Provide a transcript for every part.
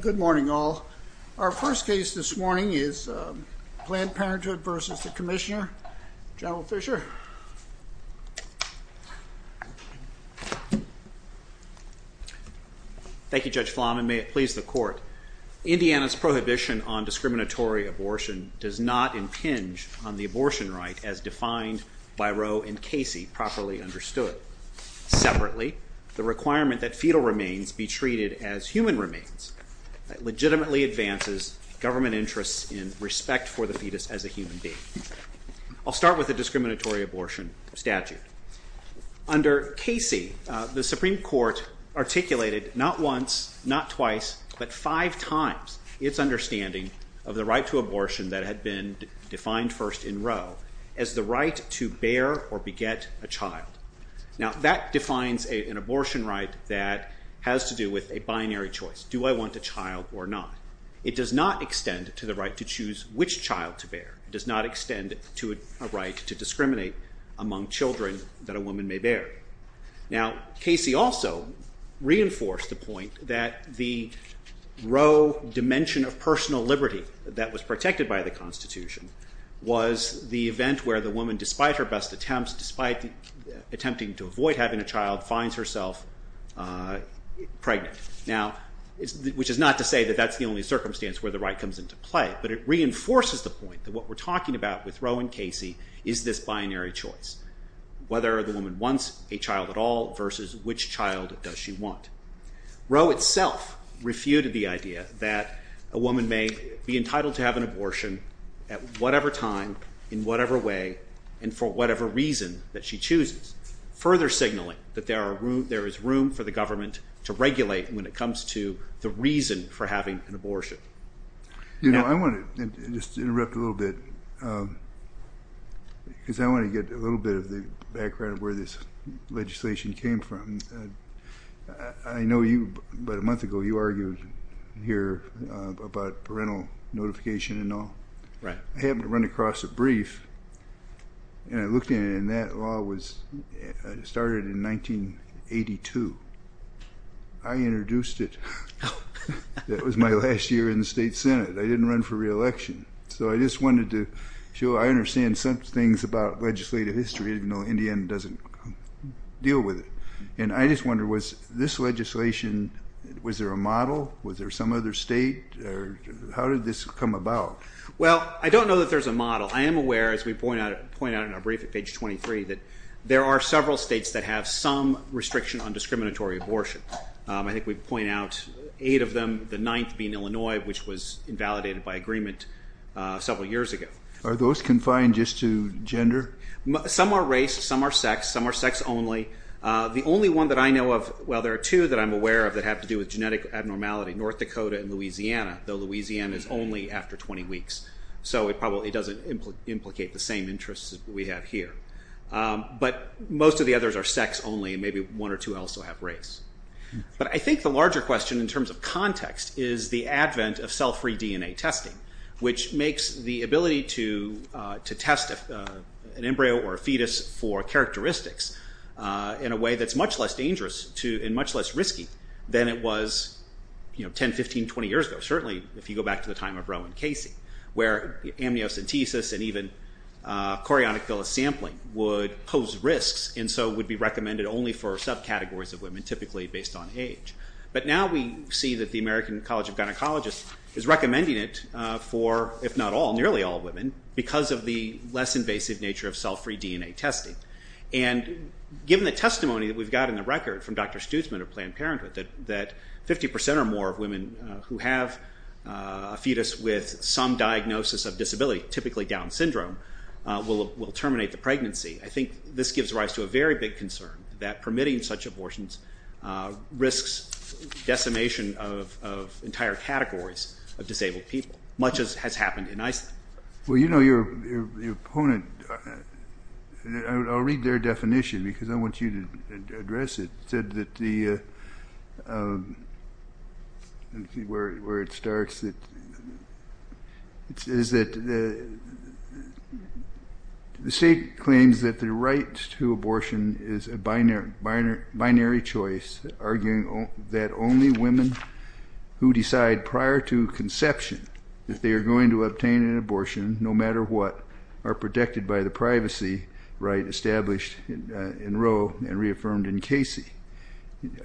Good morning, all. Our first case this morning is Planned Parenthood v. the Commissioner, General Fisher. Thank you, Judge Flanagan. May it please the Court. Indiana's prohibition on discriminatory abortion does not impinge on the abortion right as defined by Roe and Casey, properly understood. Separately, the requirement that fetal remains be treated as human remains legitimately advances government interests in respect for the fetus as a human being. I'll start with the discriminatory abortion statute. Under Casey, the Supreme Court articulated not once, not twice, but five times its understanding of the right to abortion that had been defined first in Roe as the right to bear or beget a child. Now, that defines an abortion right that has to do with a binary choice. Do I want a child or not? It does not extend to the right to choose which child to bear. It does not extend to a right to discriminate among children that a woman may bear. Now, Casey also reinforced the point that the Roe dimension of personal liberty that was protected by the Constitution was the event where the woman, despite her best attempts, despite attempting to avoid having a child, finds herself pregnant. Now, which is not to say that that's the only circumstance where the right comes into play, but it reinforces the point that what we're talking about with Roe and Casey is this binary choice. Whether the woman wants a child at all versus which child does she want. Roe itself refuted the idea that a woman may be entitled to have an abortion at whatever time, in whatever way, and for whatever reason that she chooses, further signaling that there is room for the government to regulate when it comes to the reason for having an abortion. You know, I want to just interrupt a little bit because I want to get a little bit of the background of where this legislation came from. I know about a month ago you argued here about parental notification and all. I happened to run across a brief, and I looked at it, and that law started in 1982. I introduced it. That was my last year in the State Senate. I didn't run for reelection. So I just wanted to show I understand some things about legislative history, even though Indiana doesn't deal with it. I just wonder, was this legislation, was there a model? Was there some other state? How did this come about? Well, I don't know that there's a model. I am aware, as we point out in our brief at page 23, that there are several states that have some restriction on discriminatory abortion. I think we point out eight of them, the ninth being Illinois, which was invalidated by agreement several years ago. Are those confined just to gender? Some are race. Some are sex. Some are sex only. The only one that I know of, well, there are two that I'm aware of that have to do with genetic abnormality, North Dakota and Louisiana, though Louisiana is only after 20 weeks. So it probably doesn't implicate the same interests that we have here. But most of the others are sex only, and maybe one or two also have race. But I think the larger question in terms of context is the advent of cell-free DNA testing, which makes the ability to test an embryo or a fetus for characteristics in a way that's much less dangerous and much less risky than it was 10, 15, 20 years ago, certainly if you go back to the time of Rowan Casey, where amniocentesis and even chorionic villus sampling would pose risks and so would be recommended only for subcategories of women, typically based on age. But now we see that the American College of Gynecologists is recommending it for, if not all, nearly all women, because of the less invasive nature of cell-free DNA testing. And given the testimony that we've got in the record from Dr. Stutzman of Planned Parenthood that 50% or more of women who have a fetus with some diagnosis of disability, typically Down syndrome, will terminate the pregnancy, I think this gives rise to a very big concern that permitting such abortions risks decimation of entire categories of disabled people, much as has happened in Iceland. Well, you know, your opponent, and I'll read their definition because I want you to address it, said that the, where it starts, is that the state claims that the right to abortion is a binary choice, arguing that only women who decide prior to conception that they are going to obtain an abortion, no matter what, are protected by the privacy right established in Rowe and reaffirmed in Casey.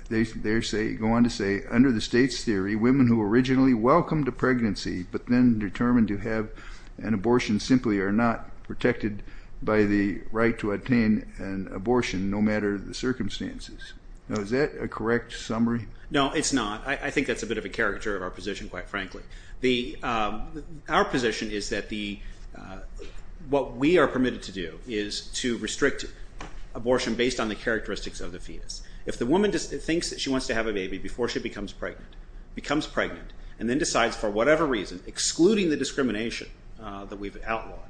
They go on to say, under the state's theory, women who originally welcomed a pregnancy but then determined to have an abortion simply are not protected by the right to obtain an abortion, no matter the circumstances. Now, is that a correct summary? No, it's not. I think that's a bit of a caricature of our position, quite frankly. Our position is that the, what we are permitted to do is to restrict abortion based on the characteristics of the fetus. If the woman thinks that she wants to have a baby before she becomes pregnant, becomes pregnant, and then decides for whatever reason, excluding the discrimination that we've outlined,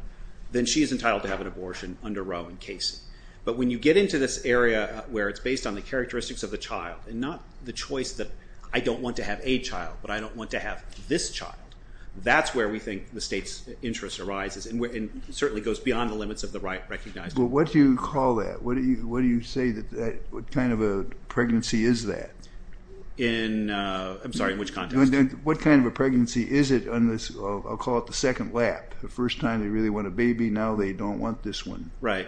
then she is entitled to have an abortion under Rowe and Casey. But when you get into this area where it's based on the characteristics of the child and not the choice that I don't want to have a child, but I don't want to have this child, that's where we think the state's interest arises and certainly goes beyond the limits of the right recognized. Well, what do you call that? What do you say that, what kind of a pregnancy is that? In, I'm sorry, in which context? What kind of a pregnancy is it on this, I'll call it the second lap, the first time they really want a baby, now they don't want this one. Right.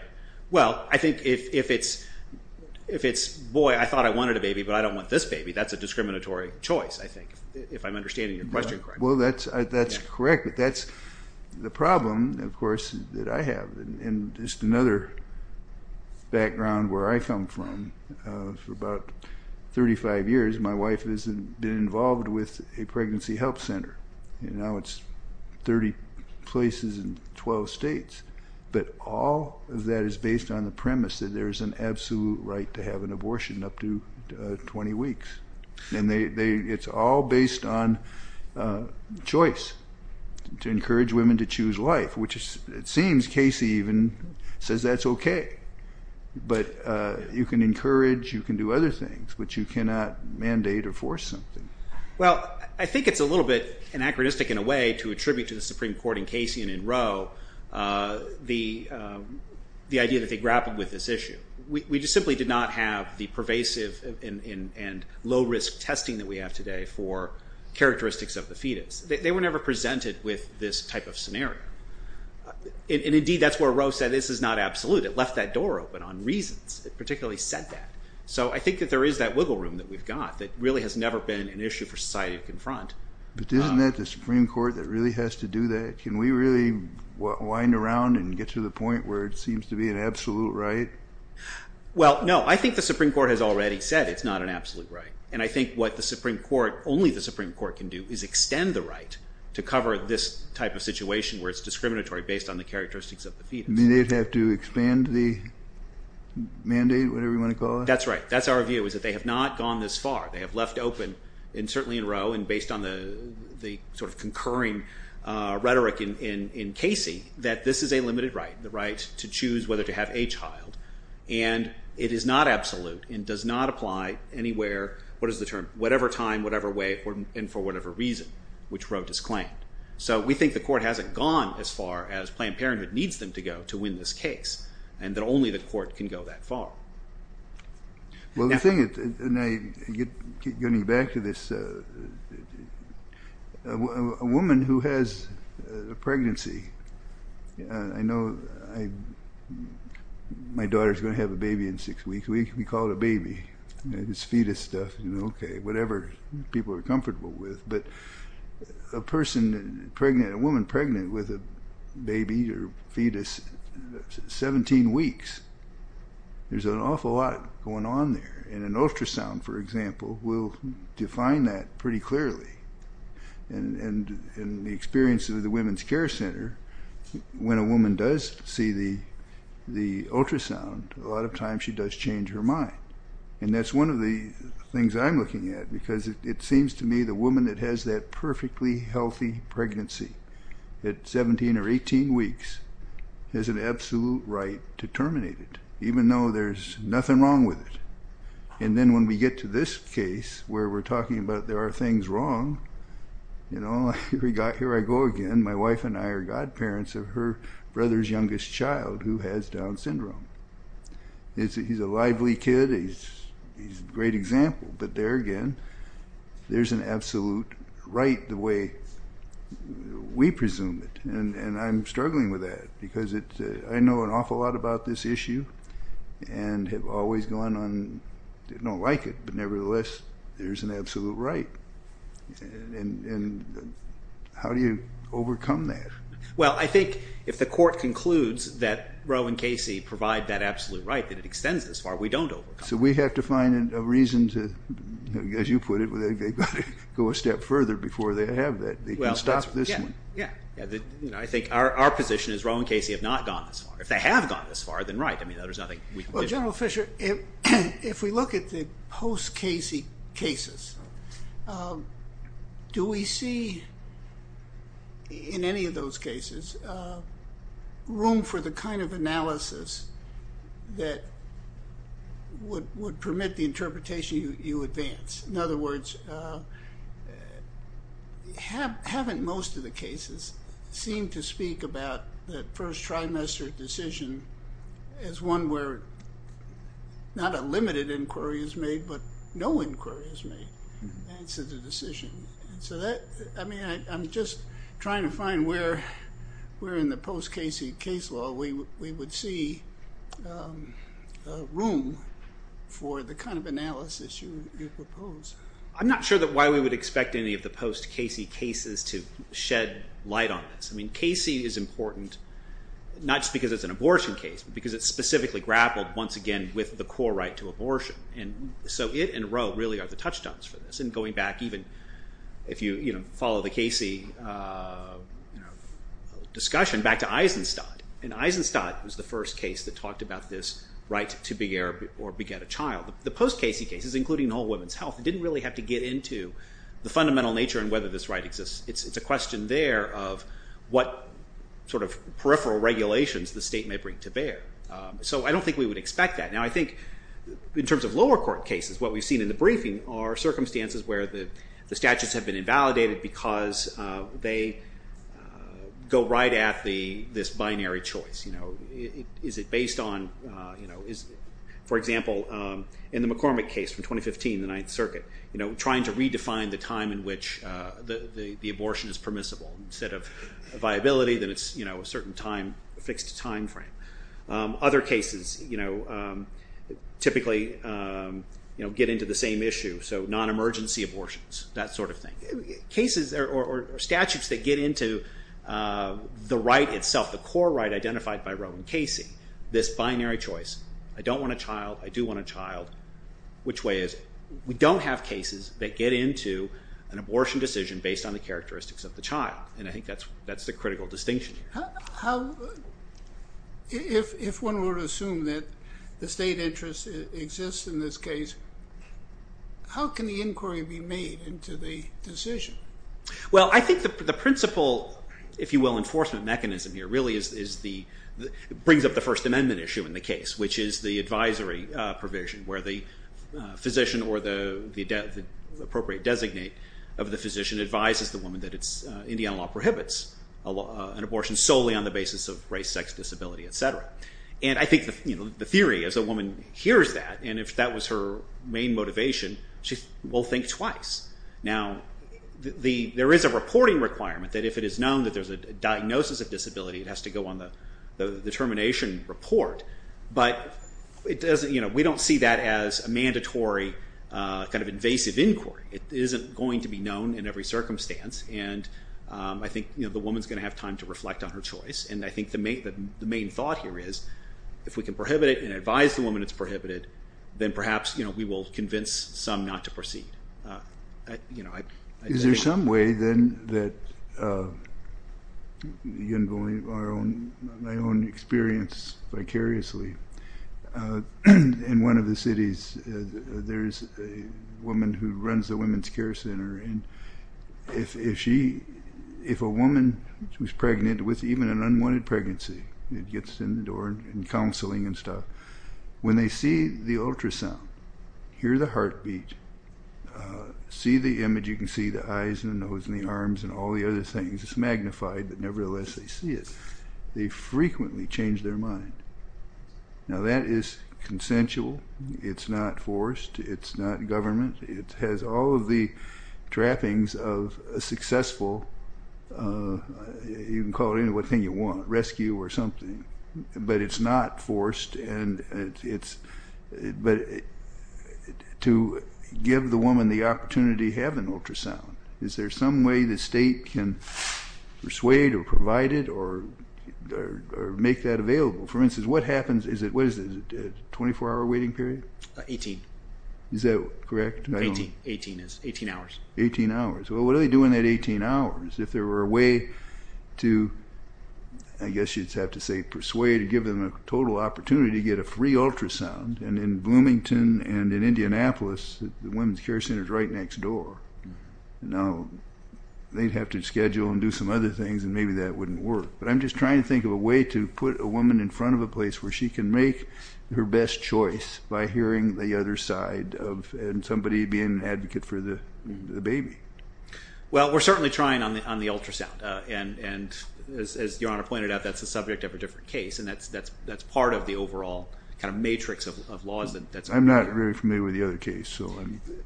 Well, I think if it's, boy, I thought I wanted a baby, but I don't want this baby, that's a discriminatory choice, I think, if I'm understanding your question correctly. Well, that's correct, but that's the problem, of course, that I have. And just another background where I come from, for about 35 years, my wife has been involved with a pregnancy health center, and now it's 30 places in 12 states. But all of that is based on the premise that there's an absolute right to have an abortion up to 20 weeks. And it's all based on choice, to encourage women to choose life, which it seems Casey even says that's okay. But you can encourage, you can do other things, but you cannot mandate or force something. Well, I think it's a little bit anachronistic in a way to attribute to the Supreme Court in Casey and in Roe the idea that they grappled with this issue. We simply did not have the pervasive and low-risk testing that we have today for characteristics of the fetus. They were never presented with this type of scenario. And indeed, that's where Roe said, this is not absolute. It left that door open on reasons. It particularly said that. So I think that there is that wiggle room that we've got that really has never been an issue for society to confront. But isn't that the Supreme Court that really has to do that? Can we really wind around and get to the point where it seems to be an absolute right? Well, no. I think the Supreme Court has already said it's not an absolute right. And I think what the Supreme Court, only the Supreme Court, can do is extend the right to cover this type of situation where it's discriminatory based on the characteristics of the fetus. You mean they'd have to expand the mandate, whatever you want to call it? That's right. That's our view, is that they have not gone this far. They have left open, and certainly in Roe, and based on the sort of concurring rhetoric in Casey, that this is a limited right, the right to choose whether to have a child. And it is not absolute and does not apply anywhere, what is the term, whatever time, whatever way, and for whatever reason, which Roe disclaimed. So we think the court hasn't gone as far as Planned Parenthood needs them to go to win this case. And that only the court can go that far. Well, the thing, getting back to this, a woman who has a pregnancy, I know my daughter is going to have a baby in six weeks, we call it a baby. It's fetus stuff, you know, okay, whatever people are comfortable with. But a woman pregnant with a baby or fetus, 17 weeks, there's an awful lot going on there. And an ultrasound, for example, will define that pretty clearly. And in the experience of the Women's Care Center, when a woman does see the ultrasound, a lot of times she does change her mind. And that's one of the things I'm looking at, because it seems to me the woman that has that perfectly healthy pregnancy at 17 or 18 weeks has an absolute right to terminate it, even though there's nothing wrong with it. And then when we get to this case, where we're talking about there are things wrong, you know, here I go again, my wife and I are godparents of her brother's youngest child who has Down syndrome. He's a lively kid, he's a great example, but there again, there's an absolute right the way we presume it. And I'm struggling with that, because I know an awful lot about this issue, and have always gone on, don't like it, but nevertheless, there's an absolute right. And how do you overcome that? Well, I think if the court concludes that Roe and Casey provide that absolute right, that it extends this far, we don't overcome it. So we have to find a reason to, as you put it, they've got to go a step further before they have that. They can stop this one. Yeah. I think our position is Roe and Casey have not gone this far. If they have gone this far, then right. Well, General Fisher, if we look at the post-Casey cases, do we see in any of those cases room for the kind of analysis that would permit the interpretation you advance? In other words, haven't most of the cases seemed to speak about that first trimester decision as one where not a limited inquiry is made, but no inquiry is made. I'm just trying to find where in the post-Casey case law we would see room for the kind of analysis you propose. I'm not sure why we would expect any of the post-Casey cases to shed light on this. I mean, Casey is important, not just because it's an abortion case, but because it's specifically grappled, once again, with the core right to abortion. And so it and Roe really are the touchstones for this. And going back, even if you follow the Casey discussion, back to Eisenstadt. And Eisenstadt was the first case that talked about this right to beget a child. The post-Casey cases, including whole women's health, didn't really have to get into the fundamental nature and whether this right exists. It's a question there of what sort of peripheral regulations the state may bring to bear. So I don't think we would expect that. Now, I think in terms of lower court cases, what we've seen in the briefing are circumstances where the statutes have been invalidated because they go right at this binary choice. Is it based on, for example, in the McCormick case from 2015, the Ninth Circuit, trying to redefine the time in which the abortion is permissible. Instead of viability, then it's a certain fixed time frame. Other cases typically get into the same issue. So non-emergency abortions, that sort of thing. Statutes that get into the right itself, the core right identified by Roe and Casey, this binary choice. I don't want a child. I do want a child. Which way is it? We don't have cases that get into an abortion decision based on the characteristics of the child. And I think that's the critical distinction. If one were to assume that the state interest exists in this case, how can the inquiry be made into the decision? Well, I think the principle, if you will, enforcement mechanism here really brings up the First Amendment issue in the case, which is the advisory provision where the physician or the appropriate designate of the physician advises the woman that Indiana law prohibits an abortion solely on the basis of race, sex, disability, etc. And I think the theory, as a woman hears that, and if that was her main motivation, she will think twice. Now, there is a reporting requirement that if it is known that there's a diagnosis of disability, it has to go on the termination report. But we don't see that as a mandatory invasive inquiry. It isn't going to be known in every circumstance. And I think the woman's going to have time to reflect on her choice. And I think the main thought here is, if we can prohibit it and advise the woman it's prohibited, then perhaps we will convince some not to proceed. Is there some way then that, my own experience vicariously, in one of the cities there's a woman who runs a women's care center. And if a woman who's pregnant with even an unwanted pregnancy gets in the door and counseling and stuff, when they see the ultrasound, hear the heartbeat, see the image, you can see the eyes and the nose and the arms and all the other things, it's magnified, but nevertheless they see it, they frequently change their mind. Now that is consensual, it's not forced, it's not government, it has all of the trappings of a successful, you can call it anything you want, rescue or something. But it's not forced, but to give the woman the opportunity to have an ultrasound, is there some way the state can persuade or provide it or make that available? For instance, what happens, what is it, 24 hour waiting period? 18. Is that correct? 18 is, 18 hours. 18 hours. Well, what do they do in that 18 hours if there were a way to, I guess you'd have to say persuade, give them a total opportunity to get a free ultrasound? And in Bloomington and in Indianapolis, the women's care center is right next door. Now, they'd have to schedule and do some other things and maybe that wouldn't work. But I'm just trying to think of a way to put a woman in front of a place where she can make her best choice by hearing the other side of somebody being an advocate for the baby. Well, we're certainly trying on the ultrasound, and as Your Honor pointed out, that's the subject of a different case, and that's part of the overall kind of matrix of laws. I'm not very familiar with the other case.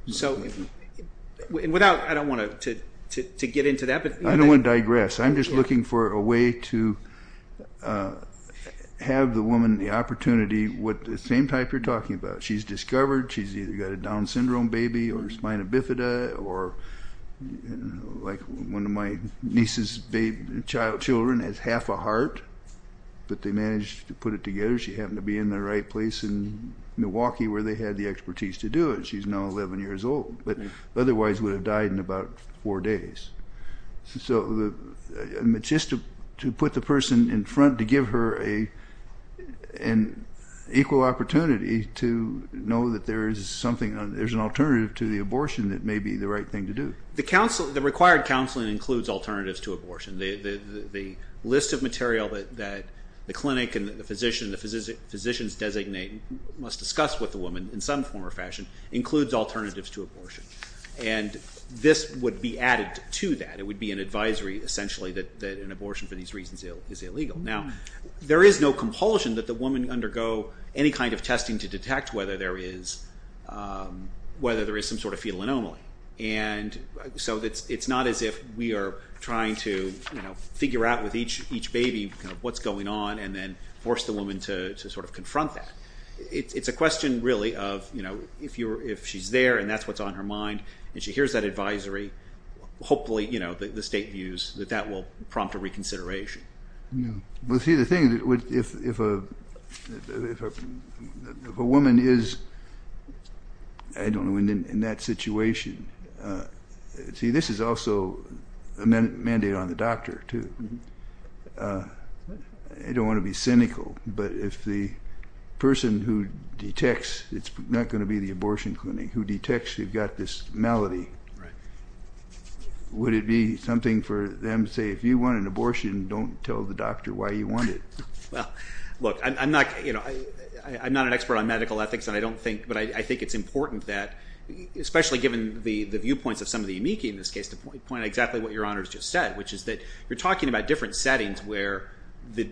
So without, I don't want to get into that. I don't want to digress. I'm just looking for a way to have the woman the opportunity, the same type you're talking about. She's discovered, she's either got a Down syndrome baby or spina bifida or like one of my niece's children has half a heart, but they managed to put it together. She happened to be in the right place in Milwaukee where they had the expertise to do it. She's now 11 years old, but otherwise would have died in about four days. So just to put the person in front, to give her an equal opportunity to know that there is something, there's an alternative to the abortion that may be the right thing to do. The required counseling includes alternatives to abortion. The list of material that the clinic and the physician, the physicians designate, must discuss with the woman in some form or fashion includes alternatives to abortion, and this would be added to that. It would be an advisory essentially that an abortion for these reasons is illegal. Now, there is no compulsion that the woman undergo any kind of testing to detect whether there is some sort of fetal anomaly. And so it's not as if we are trying to figure out with each baby what's going on and then force the woman to sort of confront that. It's a question really of, you know, if she's there and that's what's on her mind and she hears that advisory, hopefully, you know, the state views that that will prompt a reconsideration. Well, see, the thing, if a woman is, I don't know, in that situation, see, this is also a mandate on the doctor, too. I don't want to be cynical, but if the person who detects it's not going to be the abortion clinic who detects you've got this malady, would it be something for them to say, if you want an abortion, don't tell the doctor why you want it? Well, look, I'm not, you know, I'm not an expert on medical ethics and I don't think, but I think it's important that, especially given the viewpoints of some of the amici in this case, to point out exactly what Your Honor's just said, which is that you're talking about different settings where the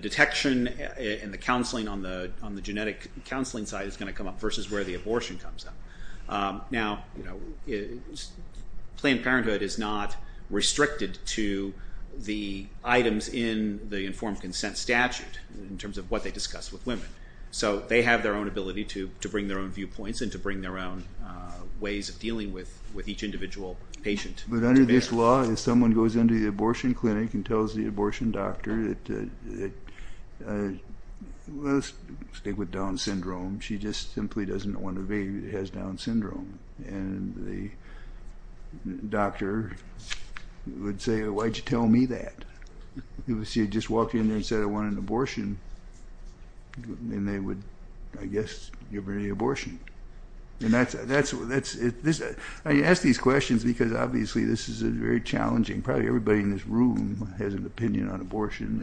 detection and the counseling on the genetic counseling side is going to come up versus where the abortion comes up. Now, Planned Parenthood is not restricted to the items in the informed consent statute in terms of what they discuss with women. So they have their own ability to bring their own viewpoints and to bring their own ways of dealing with each individual patient. But under this law, if someone goes into the abortion clinic and tells the abortion doctor, let's stick with Down syndrome, she just simply doesn't want a baby that has Down syndrome. And the doctor would say, why'd you tell me that? She would just walk in there and say, I want an abortion. And they would, I guess, give her the abortion. And that's, I ask these questions because obviously this is a very challenging, probably everybody in this room has an opinion on abortion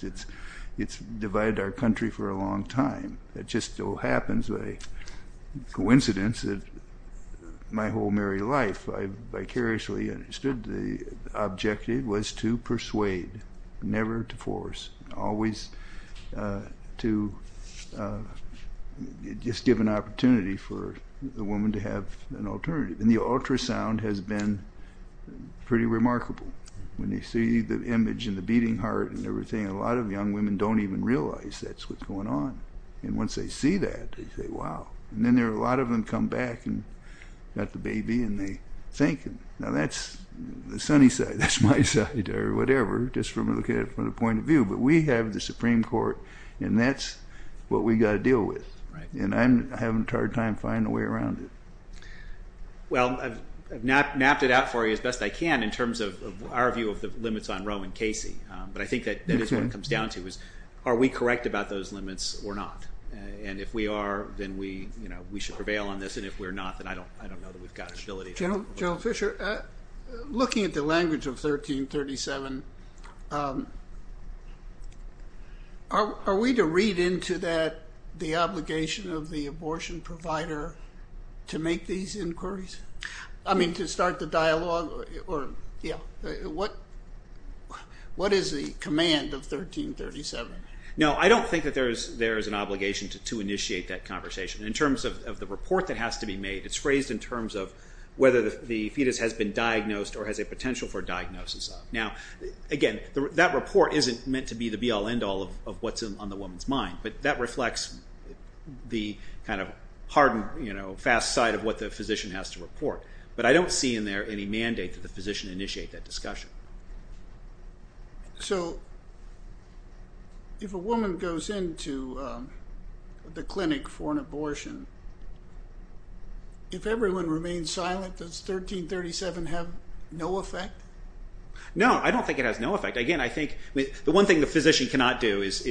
and it's divided our country for a long time. It just so happens by coincidence that my whole married life, I vicariously understood the objective was to persuade, never to force, always to just give an opportunity for the woman to have an alternative. And the ultrasound has been pretty remarkable. When you see the image and the beating heart and everything, a lot of young women don't even realize that's what's going on. And once they see that, they say, wow. And then there are a lot of them come back and got the baby and they think, now that's the sunny side. That's my side or whatever, just from the point of view. But we have the Supreme Court and that's what we got to deal with. And I'm having a hard time finding a way around it. Well, I've mapped it out for you as best I can in terms of our view of the limits on Roe and Casey. But I think that is what it comes down to is, are we correct about those limits or not? And if we are, then we should prevail on this. And if we're not, then I don't know that we've got the ability. General Fischer, looking at the language of 1337, are we to read into that the obligation of the abortion provider to make these inquiries? I mean, to start the dialogue? What is the command of 1337? No, I don't think that there is an obligation to initiate that conversation. In terms of the report that has to be made, it's phrased in terms of whether the fetus has been diagnosed or has a potential for diagnosis. Now, again, that report isn't meant to be the be-all end-all of what's on the woman's mind. But that reflects the kind of hard and fast side of what the physician has to report. But I don't see in there any mandate that the physician initiate that discussion. So, if a woman goes into the clinic for an abortion, if everyone remains silent, does 1337 have no effect? No, I don't think it has no effect. Again, I think the one thing the physician cannot do is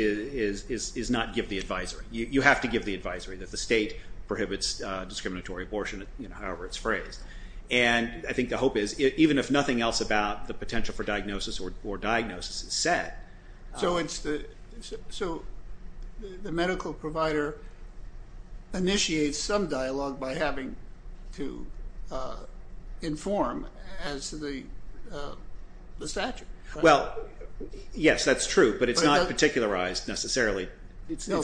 not give the advisory. You have to give the advisory that the state prohibits discriminatory abortion, however it's phrased. I think the hope is, even if nothing else about the potential for diagnosis or diagnosis is set. So, the medical provider initiates some dialogue by having to inform as the statute. Well, yes, that's true, but it's not particularized necessarily. So,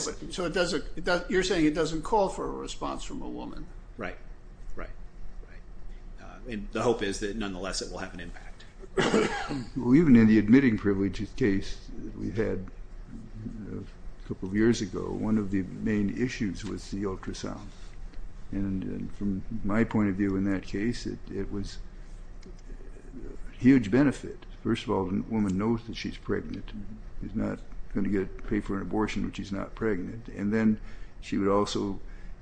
you're saying it doesn't call for a response from a woman. Right, right. The hope is that, nonetheless, it will have an impact. Well, even in the admitting privilege case that we had a couple of years ago, one of the main issues was the ultrasound. And from my point of view in that case, it was a huge benefit. First of all, the woman knows that she's pregnant. She's not going to get paid for an abortion when she's not pregnant. And then she would also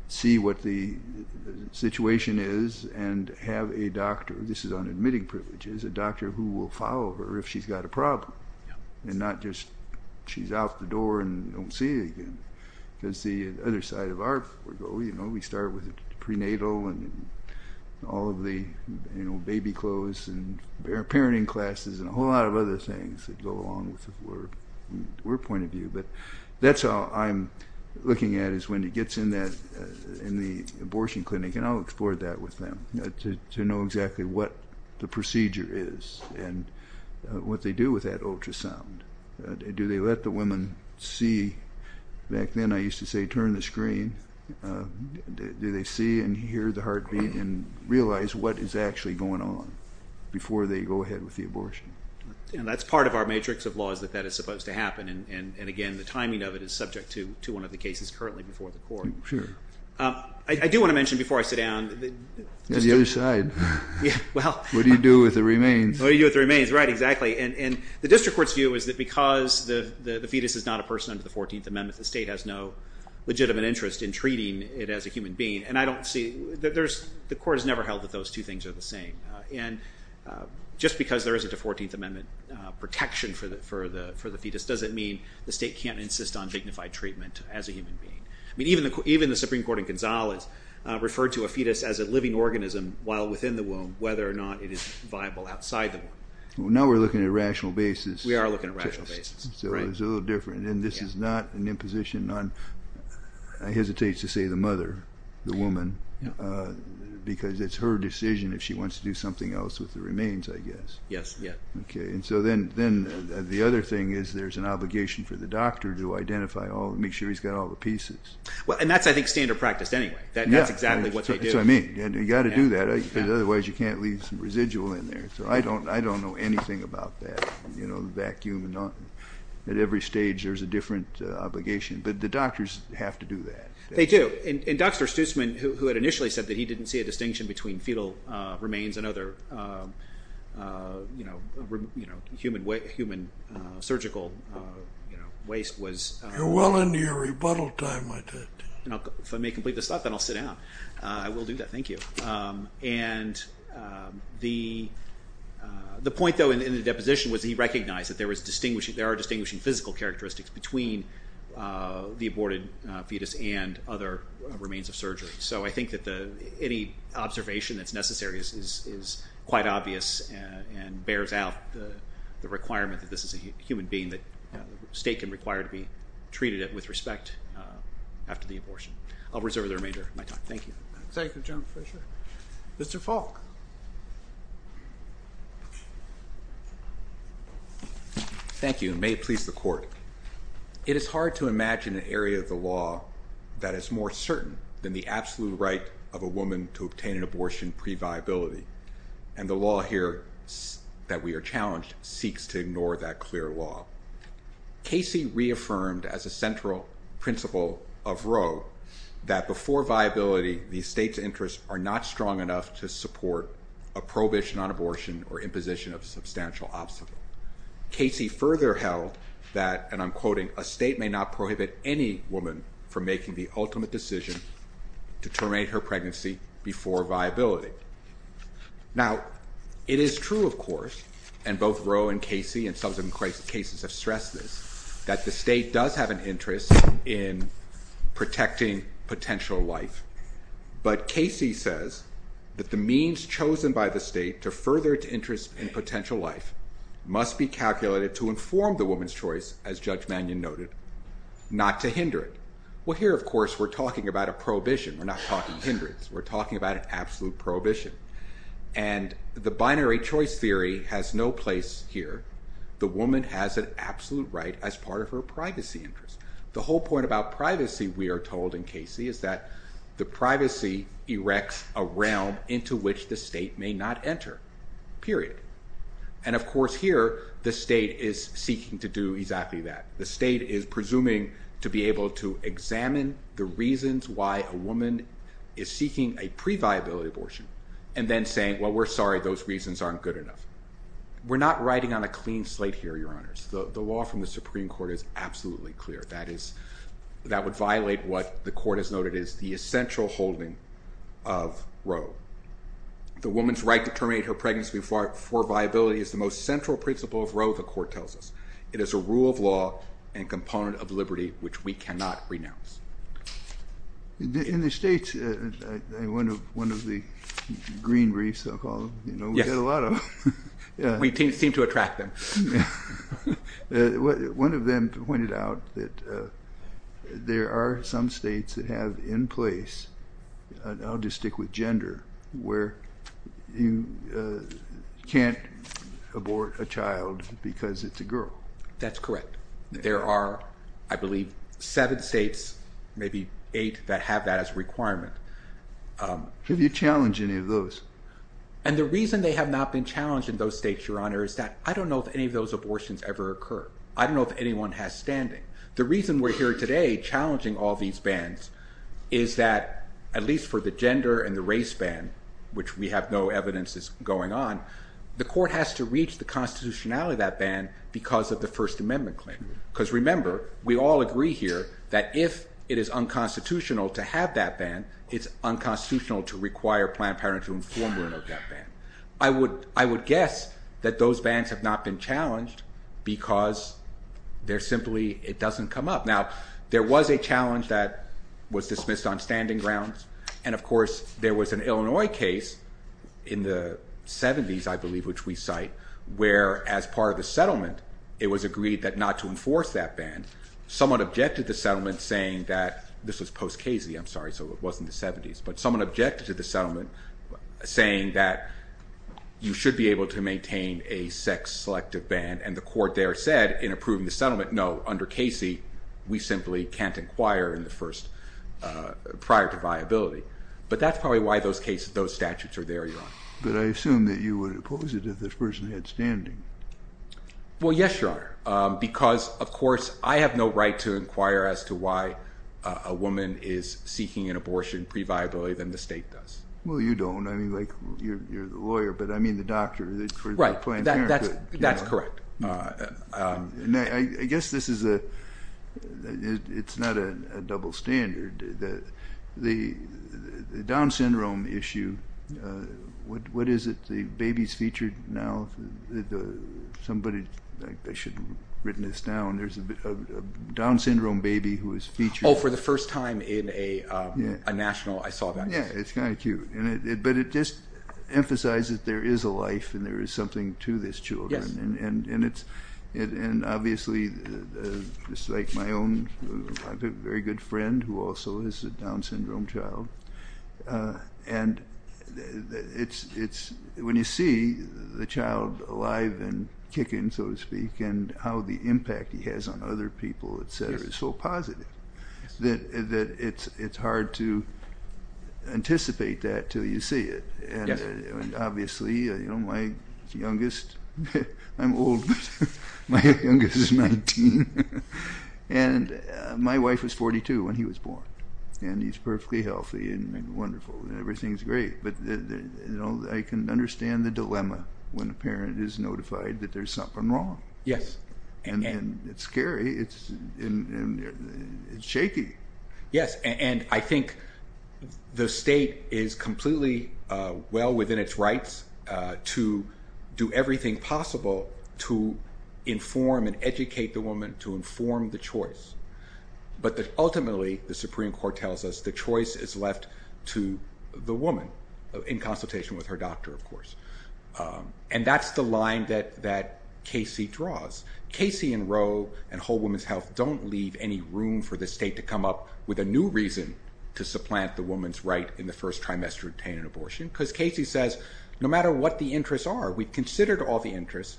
see what the situation is and have a doctor. This is on admitting privileges. A doctor who will follow her if she's got a problem. And not just she's out the door and don't see it again. Because the other side of our goal, you know, we start with the prenatal and all of the baby clothes and parenting classes and a whole lot of other things that go along with her point of view. But that's all I'm looking at is when it gets in the abortion clinic. And I'll explore that with them to know exactly what the procedure is and what they do with that ultrasound. Do they let the women see? Back then I used to say turn the screen. Do they see and hear the heartbeat and realize what is actually going on before they go ahead with the abortion? That's part of our matrix of laws that that is supposed to happen. And, again, the timing of it is subject to one of the cases currently before the court. Sure. I do want to mention before I sit down. The other side. What do you do with the remains? What do you do with the remains? Right, exactly. And the district court's view is that because the fetus is not a person under the 14th Amendment, the state has no legitimate interest in treating it as a human being. And I don't see the court has never held that those two things are the same. And just because there isn't a 14th Amendment protection for the fetus doesn't mean the state can't insist on dignified treatment as a human being. Even the Supreme Court in Gonzales referred to a fetus as a living organism while within the womb, whether or not it is viable outside the womb. Now we're looking at a rational basis. We are looking at a rational basis. So it's a little different. And this is not an imposition on, I hesitate to say, the mother, the woman, because it's her decision if she wants to do something else with the remains, I guess. Yes, yes. Okay. And so then the other thing is there's an obligation for the doctor to identify all and make sure he's got all the pieces. And that's, I think, standard practice anyway. That's exactly what they do. That's what I mean. You've got to do that, because otherwise you can't leave some residual in there. So I don't know anything about that, you know, the vacuum and all. At every stage there's a different obligation. But the doctors have to do that. They do. And Dr. Stutzman, who had initially said that he didn't see a distinction between fetal remains and other, you know, human surgical waste was... You're well into your rebuttal time. If I may complete this thought, then I'll sit down. I will do that. Thank you. And the point, though, in the deposition was he recognized that there are distinguishing physical characteristics between the aborted fetus and other remains of surgery. So I think that any observation that's necessary is quite obvious and bears out the requirement that this is a human being, that the state can require to be treated with respect after the abortion. I'll reserve the remainder of my time. Thank you. Thank you, General Fischer. Mr. Falk. Thank you, and may it please the Court. It is hard to imagine an area of the law that is more certain than the absolute right of a woman to obtain an abortion previability. And the law here that we are challenged seeks to ignore that clear law. Casey reaffirmed as a central principle of Roe that before viability, the state's interests are not strong enough to support a prohibition on abortion or imposition of substantial obstacle. Casey further held that, and I'm quoting, a state may not prohibit any woman from making the ultimate decision to terminate her pregnancy before viability. Now, it is true, of course, and both Roe and Casey and subsequent cases have stressed this, that the state does have an interest in protecting potential life. But Casey says that the means chosen by the state to further its interest in potential life must be calculated to inform the woman's choice, as Judge Mannion noted, not to hinder it. Well, here, of course, we're talking about a prohibition. We're not talking hindrance. We're talking about an absolute prohibition. And the binary choice theory has no place here. The woman has an absolute right as part of her privacy interest. The whole point about privacy, we are told in Casey, is that the privacy erects a realm into which the state may not enter, period. And, of course, here, the state is seeking to do exactly that. The state is presuming to be able to examine the reasons why a woman is seeking a pre-viability abortion and then saying, well, we're sorry, those reasons aren't good enough. We're not writing on a clean slate here, Your Honors. The law from the Supreme Court is absolutely clear. That would violate what the court has noted is the essential holding of Roe. The woman's right to terminate her pregnancy before viability is the most central principle of Roe, the court tells us. It is a rule of law and component of liberty which we cannot renounce. In the states, one of the green briefs, I'll call them, we get a lot of them. We seem to attract them. One of them pointed out that there are some states that have in place I'll just stick with gender, where you can't abort a child because it's a girl. That's correct. There are, I believe, seven states, maybe eight that have that as a requirement. Have you challenged any of those? And the reason they have not been challenged in those states, Your Honor, is that I don't know if any of those abortions ever occur. I don't know if anyone has standing. The reason we're here today challenging all these bans is that, at least for the gender and the race ban, which we have no evidence is going on, the court has to reach the constitutionality of that ban because of the First Amendment claim. Because remember, we all agree here that if it is unconstitutional to have that ban, it's unconstitutional to require Planned Parenthood to inform them of that ban. I would guess that those bans have not been challenged because they're simply, it doesn't come up. Now, there was a challenge that was dismissed on standing grounds, and, of course, there was an Illinois case in the 70s, I believe, which we cite, where, as part of the settlement, it was agreed not to enforce that ban. Someone objected to the settlement saying that, this was post Casey, I'm sorry, so it wasn't the 70s, but someone objected to the settlement saying that you should be able to maintain a sex-selective ban, and the court there said, in approving the settlement, no, under Casey, we simply can't inquire prior to viability. But that's probably why those statutes are there, Your Honor. But I assume that you would oppose it if this person had standing. Well, yes, Your Honor, because, of course, I have no right to inquire as to why a woman is seeking an abortion pre-viability than the state does. Well, you don't. I mean, like, you're the lawyer, but I mean the doctor for Planned Parenthood. That's correct. I guess this is a, it's not a double standard. The Down syndrome issue, what is it, the baby's featured now? Somebody, I should have written this down, there's a Down syndrome baby who is featured. Oh, for the first time in a national, I saw that. Yeah, it's kind of cute. But it just emphasizes there is a life and there is something to this child. And obviously, just like my own, I have a very good friend who also has a Down syndrome child. And when you see the child alive and kicking, so to speak, and how the impact he has on other people, et cetera, is so positive that it's hard to anticipate that until you see it. And obviously, you know, my youngest, I'm old, but my youngest is 19. And my wife was 42 when he was born. And he's perfectly healthy and wonderful and everything's great. But I can understand the dilemma when a parent is notified that there's something wrong. Yes. And it's scary. It's shaky. Yes, and I think the state is completely well within its rights to do everything possible to inform and educate the woman, to inform the choice. But ultimately, the Supreme Court tells us the choice is left to the woman, in consultation with her doctor, of course. And that's the line that Casey draws. Casey and Roe and Whole Woman's Health don't leave any room for the state to come up with a new reason to supplant the woman's right in the first trimester to obtain an abortion because Casey says, no matter what the interests are, we've considered all the interests.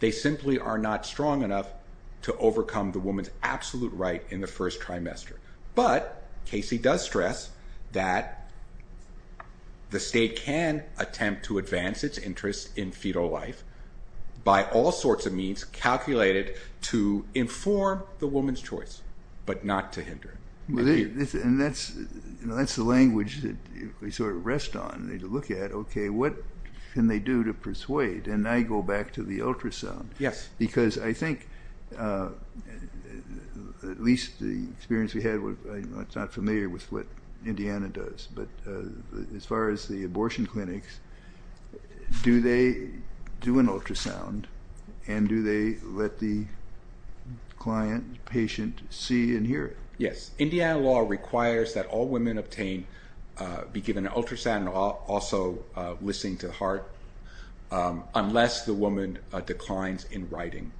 They simply are not strong enough to overcome the woman's absolute right in the first trimester. But Casey does stress that the state can attempt to advance its interests in fetal life by all sorts of means calculated to inform the woman's choice but not to hinder it. And that's the language that we sort of rest on. We look at, okay, what can they do to persuade? And I go back to the ultrasound. Yes. Because I think, at least the experience we had, I'm not familiar with what Indiana does. But as far as the abortion clinics, do they do an ultrasound and do they let the client, patient, see and hear? Yes. Indiana law requires that all women obtained be given an ultrasound and also listening to the heart unless the woman declines in writing.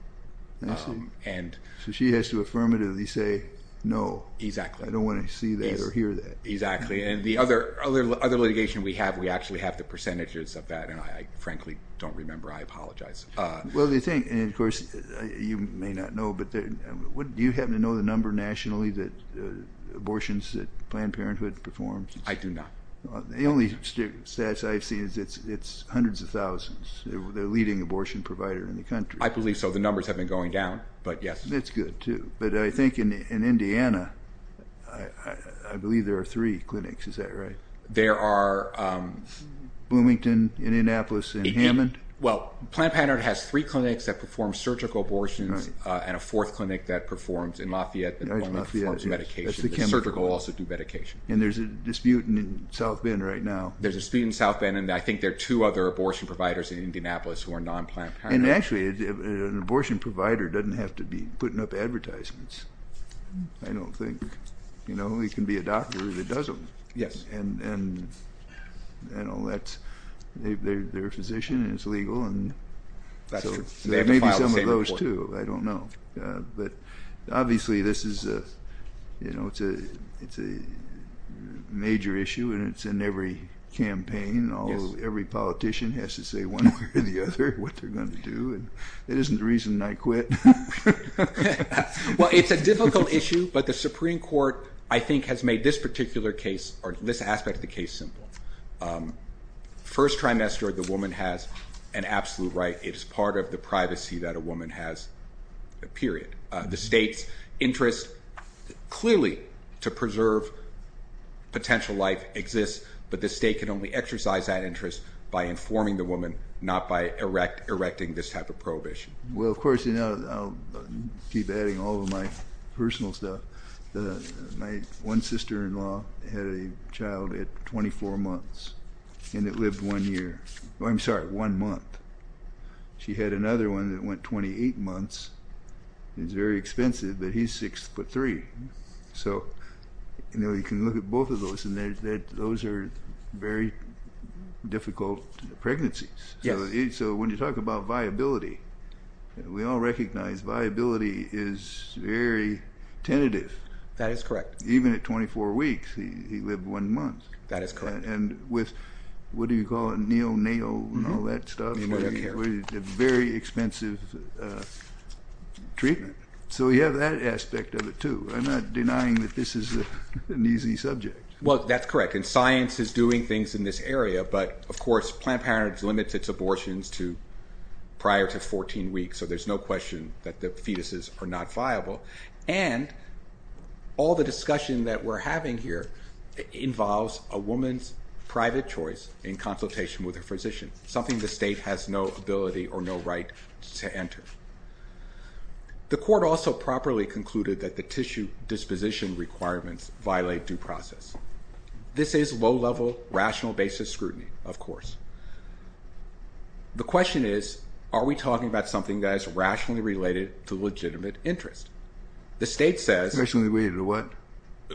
I see. So she has to affirmatively say no. Exactly. I don't want to see that or hear that. Exactly. And the other litigation we have, we actually have the percentages of that, and I frankly don't remember. I apologize. Well, the thing, and of course you may not know, but do you happen to know the number nationally that abortions that Planned Parenthood performs? I do not. The only statistics I've seen is it's hundreds of thousands. They're the leading abortion provider in the country. I believe so. The numbers have been going down, but yes. That's good too. But I think in Indiana, I believe there are three clinics. Is that right? There are. Bloomington in Indianapolis and Hammond. Well, Planned Parenthood has three clinics that perform surgical abortions and a fourth clinic that performs in Lafayette that performs medication. The surgical also do medication. And there's a dispute in South Bend right now. There's a dispute in South Bend, and I think there are two other abortion providers in Indianapolis who are non-Planned Parenthood. And actually, an abortion provider doesn't have to be putting up advertisements. I don't think. You know, he can be a doctor who does them. Yes. And, you know, they're a physician and it's legal. That's true. They have to file the same report. Maybe some of those too. I don't know. But, obviously, this is a major issue, and it's in every campaign. Every politician has to say one way or the other what they're going to do. That isn't the reason I quit. Well, it's a difficult issue, but the Supreme Court, I think, has made this particular case or this aspect of the case simple. First trimester, the woman has an absolute right. It is part of the privacy that a woman has, period. The state's interest clearly to preserve potential life exists, but the state can only exercise that interest by informing the woman, not by erecting this type of prohibition. Well, of course, you know, I'll keep adding all of my personal stuff. My one sister-in-law had a child at 24 months, and it lived one year. I'm sorry, one month. She had another one that went 28 months. It was very expensive, but he's 6'3". So, you know, you can look at both of those, and those are very difficult pregnancies. So when you talk about viability, we all recognize viability is very tentative. That is correct. Even at 24 weeks, he lived one month. That is correct. What do you call it? Neo-nail and all that stuff. Very expensive treatment. So you have that aspect of it, too. I'm not denying that this is an easy subject. Well, that's correct, and science is doing things in this area, but, of course, Planned Parenthood limits its abortions prior to 14 weeks, so there's no question that the fetuses are not viable. And all the discussion that we're having here involves a woman's private choice in consultation with her physician, something the state has no ability or no right to enter. The court also properly concluded that the tissue disposition requirements violate due process. This is low-level, rational basis scrutiny, of course. The question is, are we talking about something that is rationally related to legitimate interest? The state says... Rationally related to what?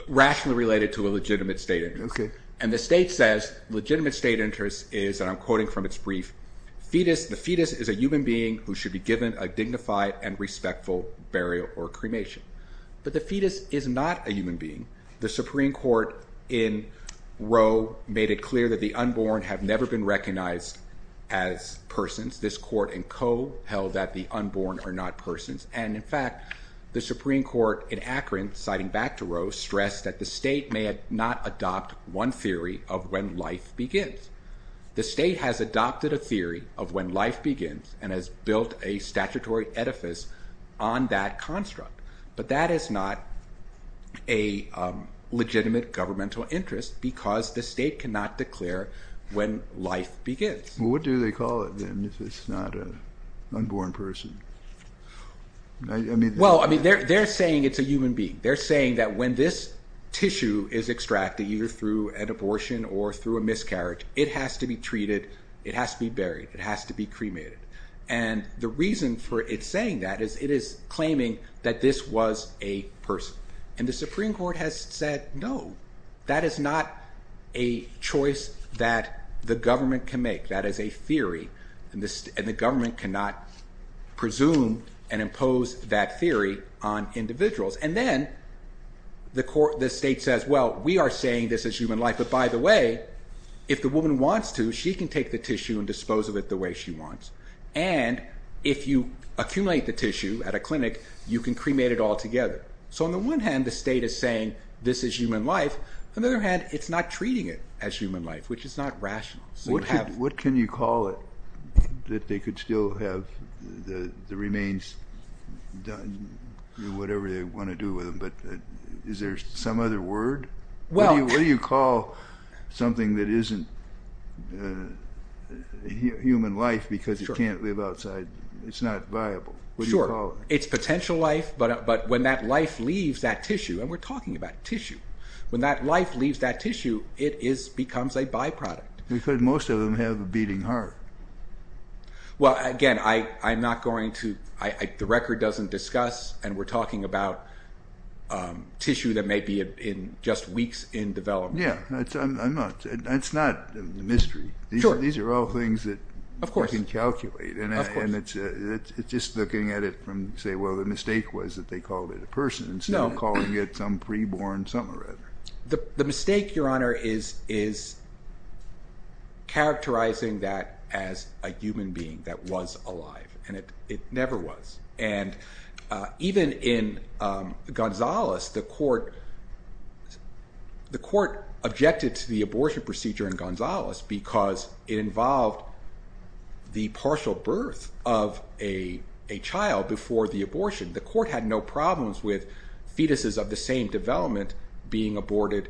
Rationally related to a legitimate state interest. And the state says legitimate state interest is, and I'm quoting from its brief, the fetus is a human being who should be given a dignified and respectful burial or cremation. But the fetus is not a human being. The Supreme Court in Roe made it clear that the unborn have never been recognized as persons. This court and co. held that the unborn are not persons. And, in fact, the Supreme Court in Akron, citing back to Roe, stressed that the state may not adopt one theory of when life begins. The state has adopted a theory of when life begins and has built a statutory edifice on that construct. But that is not a legitimate governmental interest because the state cannot declare when life begins. Well, what do they call it then if it's not an unborn person? Well, they're saying it's a human being. They're saying that when this tissue is extracted, either through an abortion or through a miscarriage, it has to be treated, it has to be buried, it has to be cremated. And the reason for it saying that is it is claiming that this was a person. And the Supreme Court has said no. That is not a choice that the government can make. That is a theory, and the government cannot presume and impose that theory on individuals. And then the state says, well, we are saying this is human life. But, by the way, if the woman wants to, she can take the tissue and dispose of it the way she wants. And if you accumulate the tissue at a clinic, you can cremate it altogether. So, on the one hand, the state is saying this is human life. On the other hand, it's not treating it as human life, which is not rational. What can you call it that they could still have the remains done, whatever they want to do with them, but is there some other word? What do you call something that isn't human life because it can't live outside? It's not viable. What do you call it? It's potential life, but when that life leaves that tissue, and we're talking about tissue, when that life leaves that tissue, it becomes a byproduct. Because most of them have a beating heart. Well, again, I'm not going to, the record doesn't discuss, and we're talking about tissue that may be in just weeks in development. Yeah, that's not a mystery. Sure. These are all things that we can calculate. Of course. And it's just looking at it from, say, well, the mistake was that they called it a person instead of calling it some pre-born something or other. The mistake, Your Honor, is characterizing that as a human being that was alive, and it never was, and even in Gonzales, the court objected to the abortion procedure in Gonzales because it involved the partial birth of a child before the abortion. The court had no problems with fetuses of the same development being aborted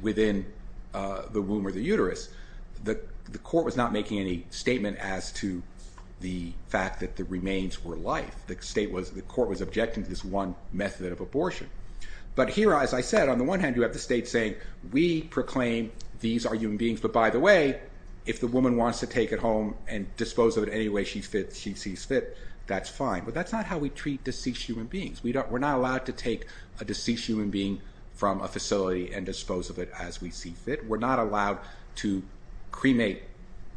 within the womb or the uterus. The court was not making any statement as to the fact that the remains were life. The court was objecting to this one method of abortion. But here, as I said, on the one hand, you have the state saying, we proclaim these are human beings, but by the way, if the woman wants to take it home and dispose of it any way she sees fit, that's fine. But that's not how we treat deceased human beings. We're not allowed to take a deceased human being from a facility and dispose of it as we see fit. We're not allowed to cremate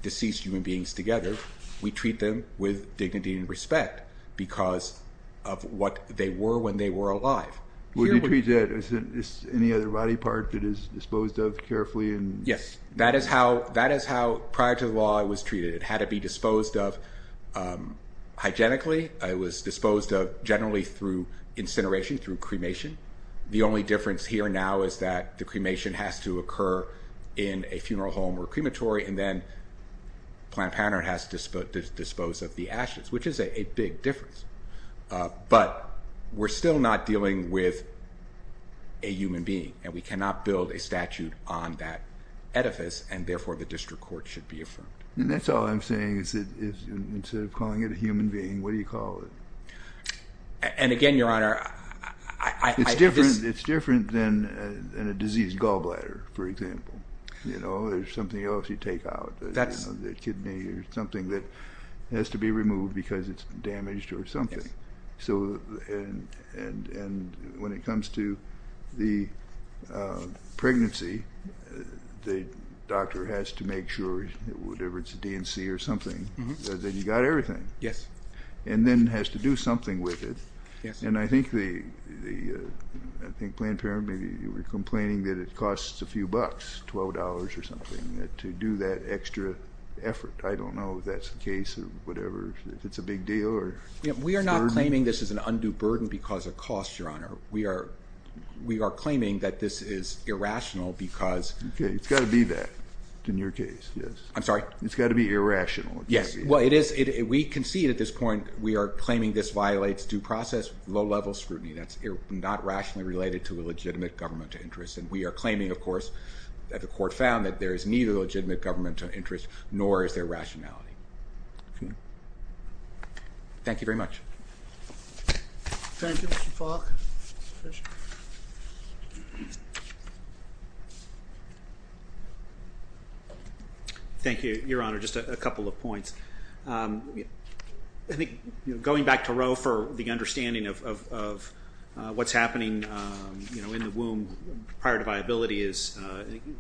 deceased human beings together. We treat them with dignity and respect because of what they were when they were alive. Would you treat that as any other body part that is disposed of carefully? Yes, that is how prior to the law it was treated. It had to be disposed of hygienically. It was disposed of generally through incineration, through cremation. The only difference here now is that the cremation has to occur in a funeral home or crematory, and then Planned Parenthood has to dispose of the ashes, which is a big difference. But we're still not dealing with a human being, and we cannot build a statute on that edifice, and therefore the district court should be affirmed. That's all I'm saying is that instead of calling it a human being, what do you call it? And again, Your Honor, I just— It's different than a diseased gallbladder, for example. There's something else you take out, the kidney or something that has to be removed because it's damaged or something. And when it comes to the pregnancy, the doctor has to make sure, whatever it's a D&C or something, that you got everything. Yes. And then has to do something with it. And I think Planned Parenthood, maybe you were complaining that it costs a few bucks, $12 or something, to do that extra effort. I don't know if that's the case or whatever, if it's a big deal. We are not claiming this is an undue burden because of cost, Your Honor. We are claiming that this is irrational because— Okay, it's got to be that in your case. I'm sorry? It's got to be irrational. Yes. Well, we concede at this point we are claiming this violates due process low-level scrutiny. That's not rationally related to a legitimate governmental interest. And we are claiming, of course, that the court found that there is neither legitimate governmental interest nor is there rationality. Thank you very much. Thank you, Mr. Falk. Thank you, Your Honor. Just a couple of points. I think going back to Roe for the understanding of what's happening in the womb prior to viability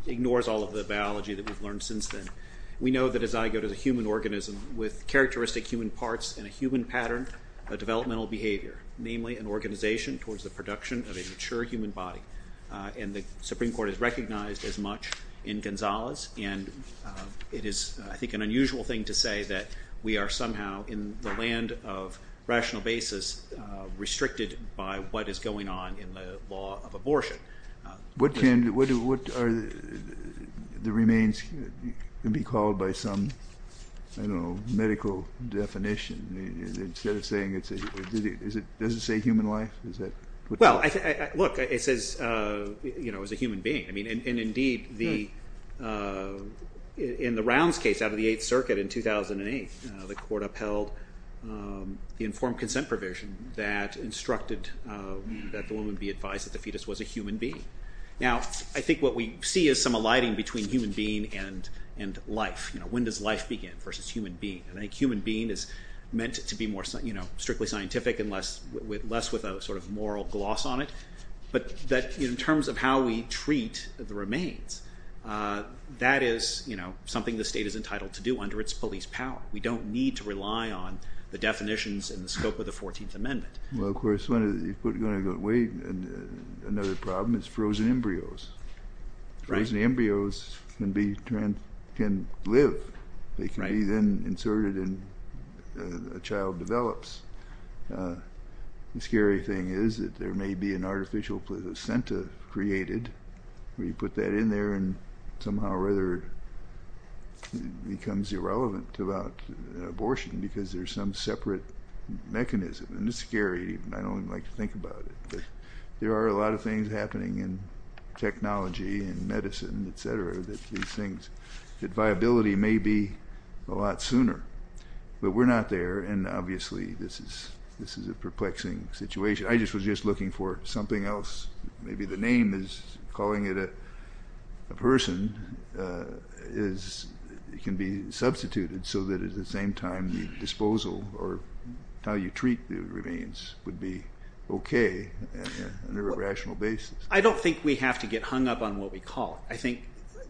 ignores all of the biology that we've learned since then. We know that a zygote is a human organism with characteristic human parts and a human pattern of developmental behavior, namely an organization towards the production of a mature human body. And the Supreme Court has recognized as much in Gonzales. And it is, I think, an unusual thing to say that we are somehow in the land of rational basis restricted by what is going on in the law of abortion. What are the remains to be called by some medical definition? Instead of saying it's a human life? Well, look, it says it's a human being. Indeed, in the Rounds case out of the Eighth Circuit in 2008, the court upheld the informed consent provision that instructed that the woman be advised that the fetus was a human being. Now, I think what we see is some alighting between human being and life. When does life begin versus human being? I think human being is meant to be strictly scientific and less with a sort of moral gloss on it. But in terms of how we treat the remains, that is something the state is entitled to do under its police power. We don't need to rely on the definitions in the scope of the 14th Amendment. Well, of course, another problem is frozen embryos. Frozen embryos can live. They can be then inserted and a child develops. The scary thing is that there may be an artificial placenta created where you put that in there and somehow or other it becomes irrelevant about abortion because there's some separate mechanism. And it's scary. I don't even like to think about it. But there are a lot of things happening in technology and medicine, et cetera, that these things, that viability may be a lot sooner. But we're not there, and obviously this is a perplexing situation. I just was just looking for something else. Maybe the name is calling it a person. It can be substituted so that at the same time the disposal or how you treat the remains would be okay on a rational basis. I don't think we have to get hung up on what we call it. I think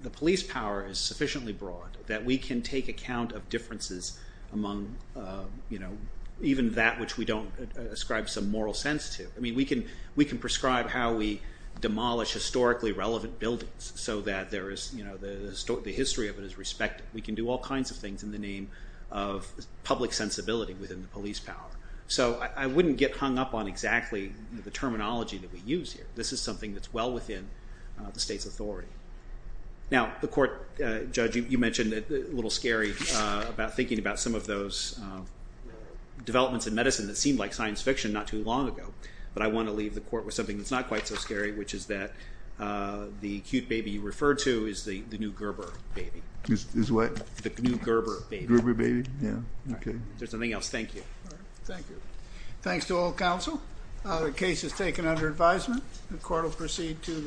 the police power is sufficiently broad that we can take account of differences among even that which we don't ascribe some moral sense to. We can prescribe how we demolish historically relevant buildings so that the history of it is respected. We can do all kinds of things in the name of public sensibility within the police power. So I wouldn't get hung up on exactly the terminology that we use here. This is something that's well within the state's authority. Now, the court, Judge, you mentioned a little scary about thinking about some of those developments in medicine that seemed like science fiction not too long ago. But I want to leave the court with something that's not quite so scary, which is that the acute baby you referred to is the new Gerber baby. Is what? The new Gerber baby. Gerber baby, yeah. All right. If there's nothing else, thank you. All right. Thank you. Thanks to all counsel. The case is taken under advisement. The court will proceed to the next hearing.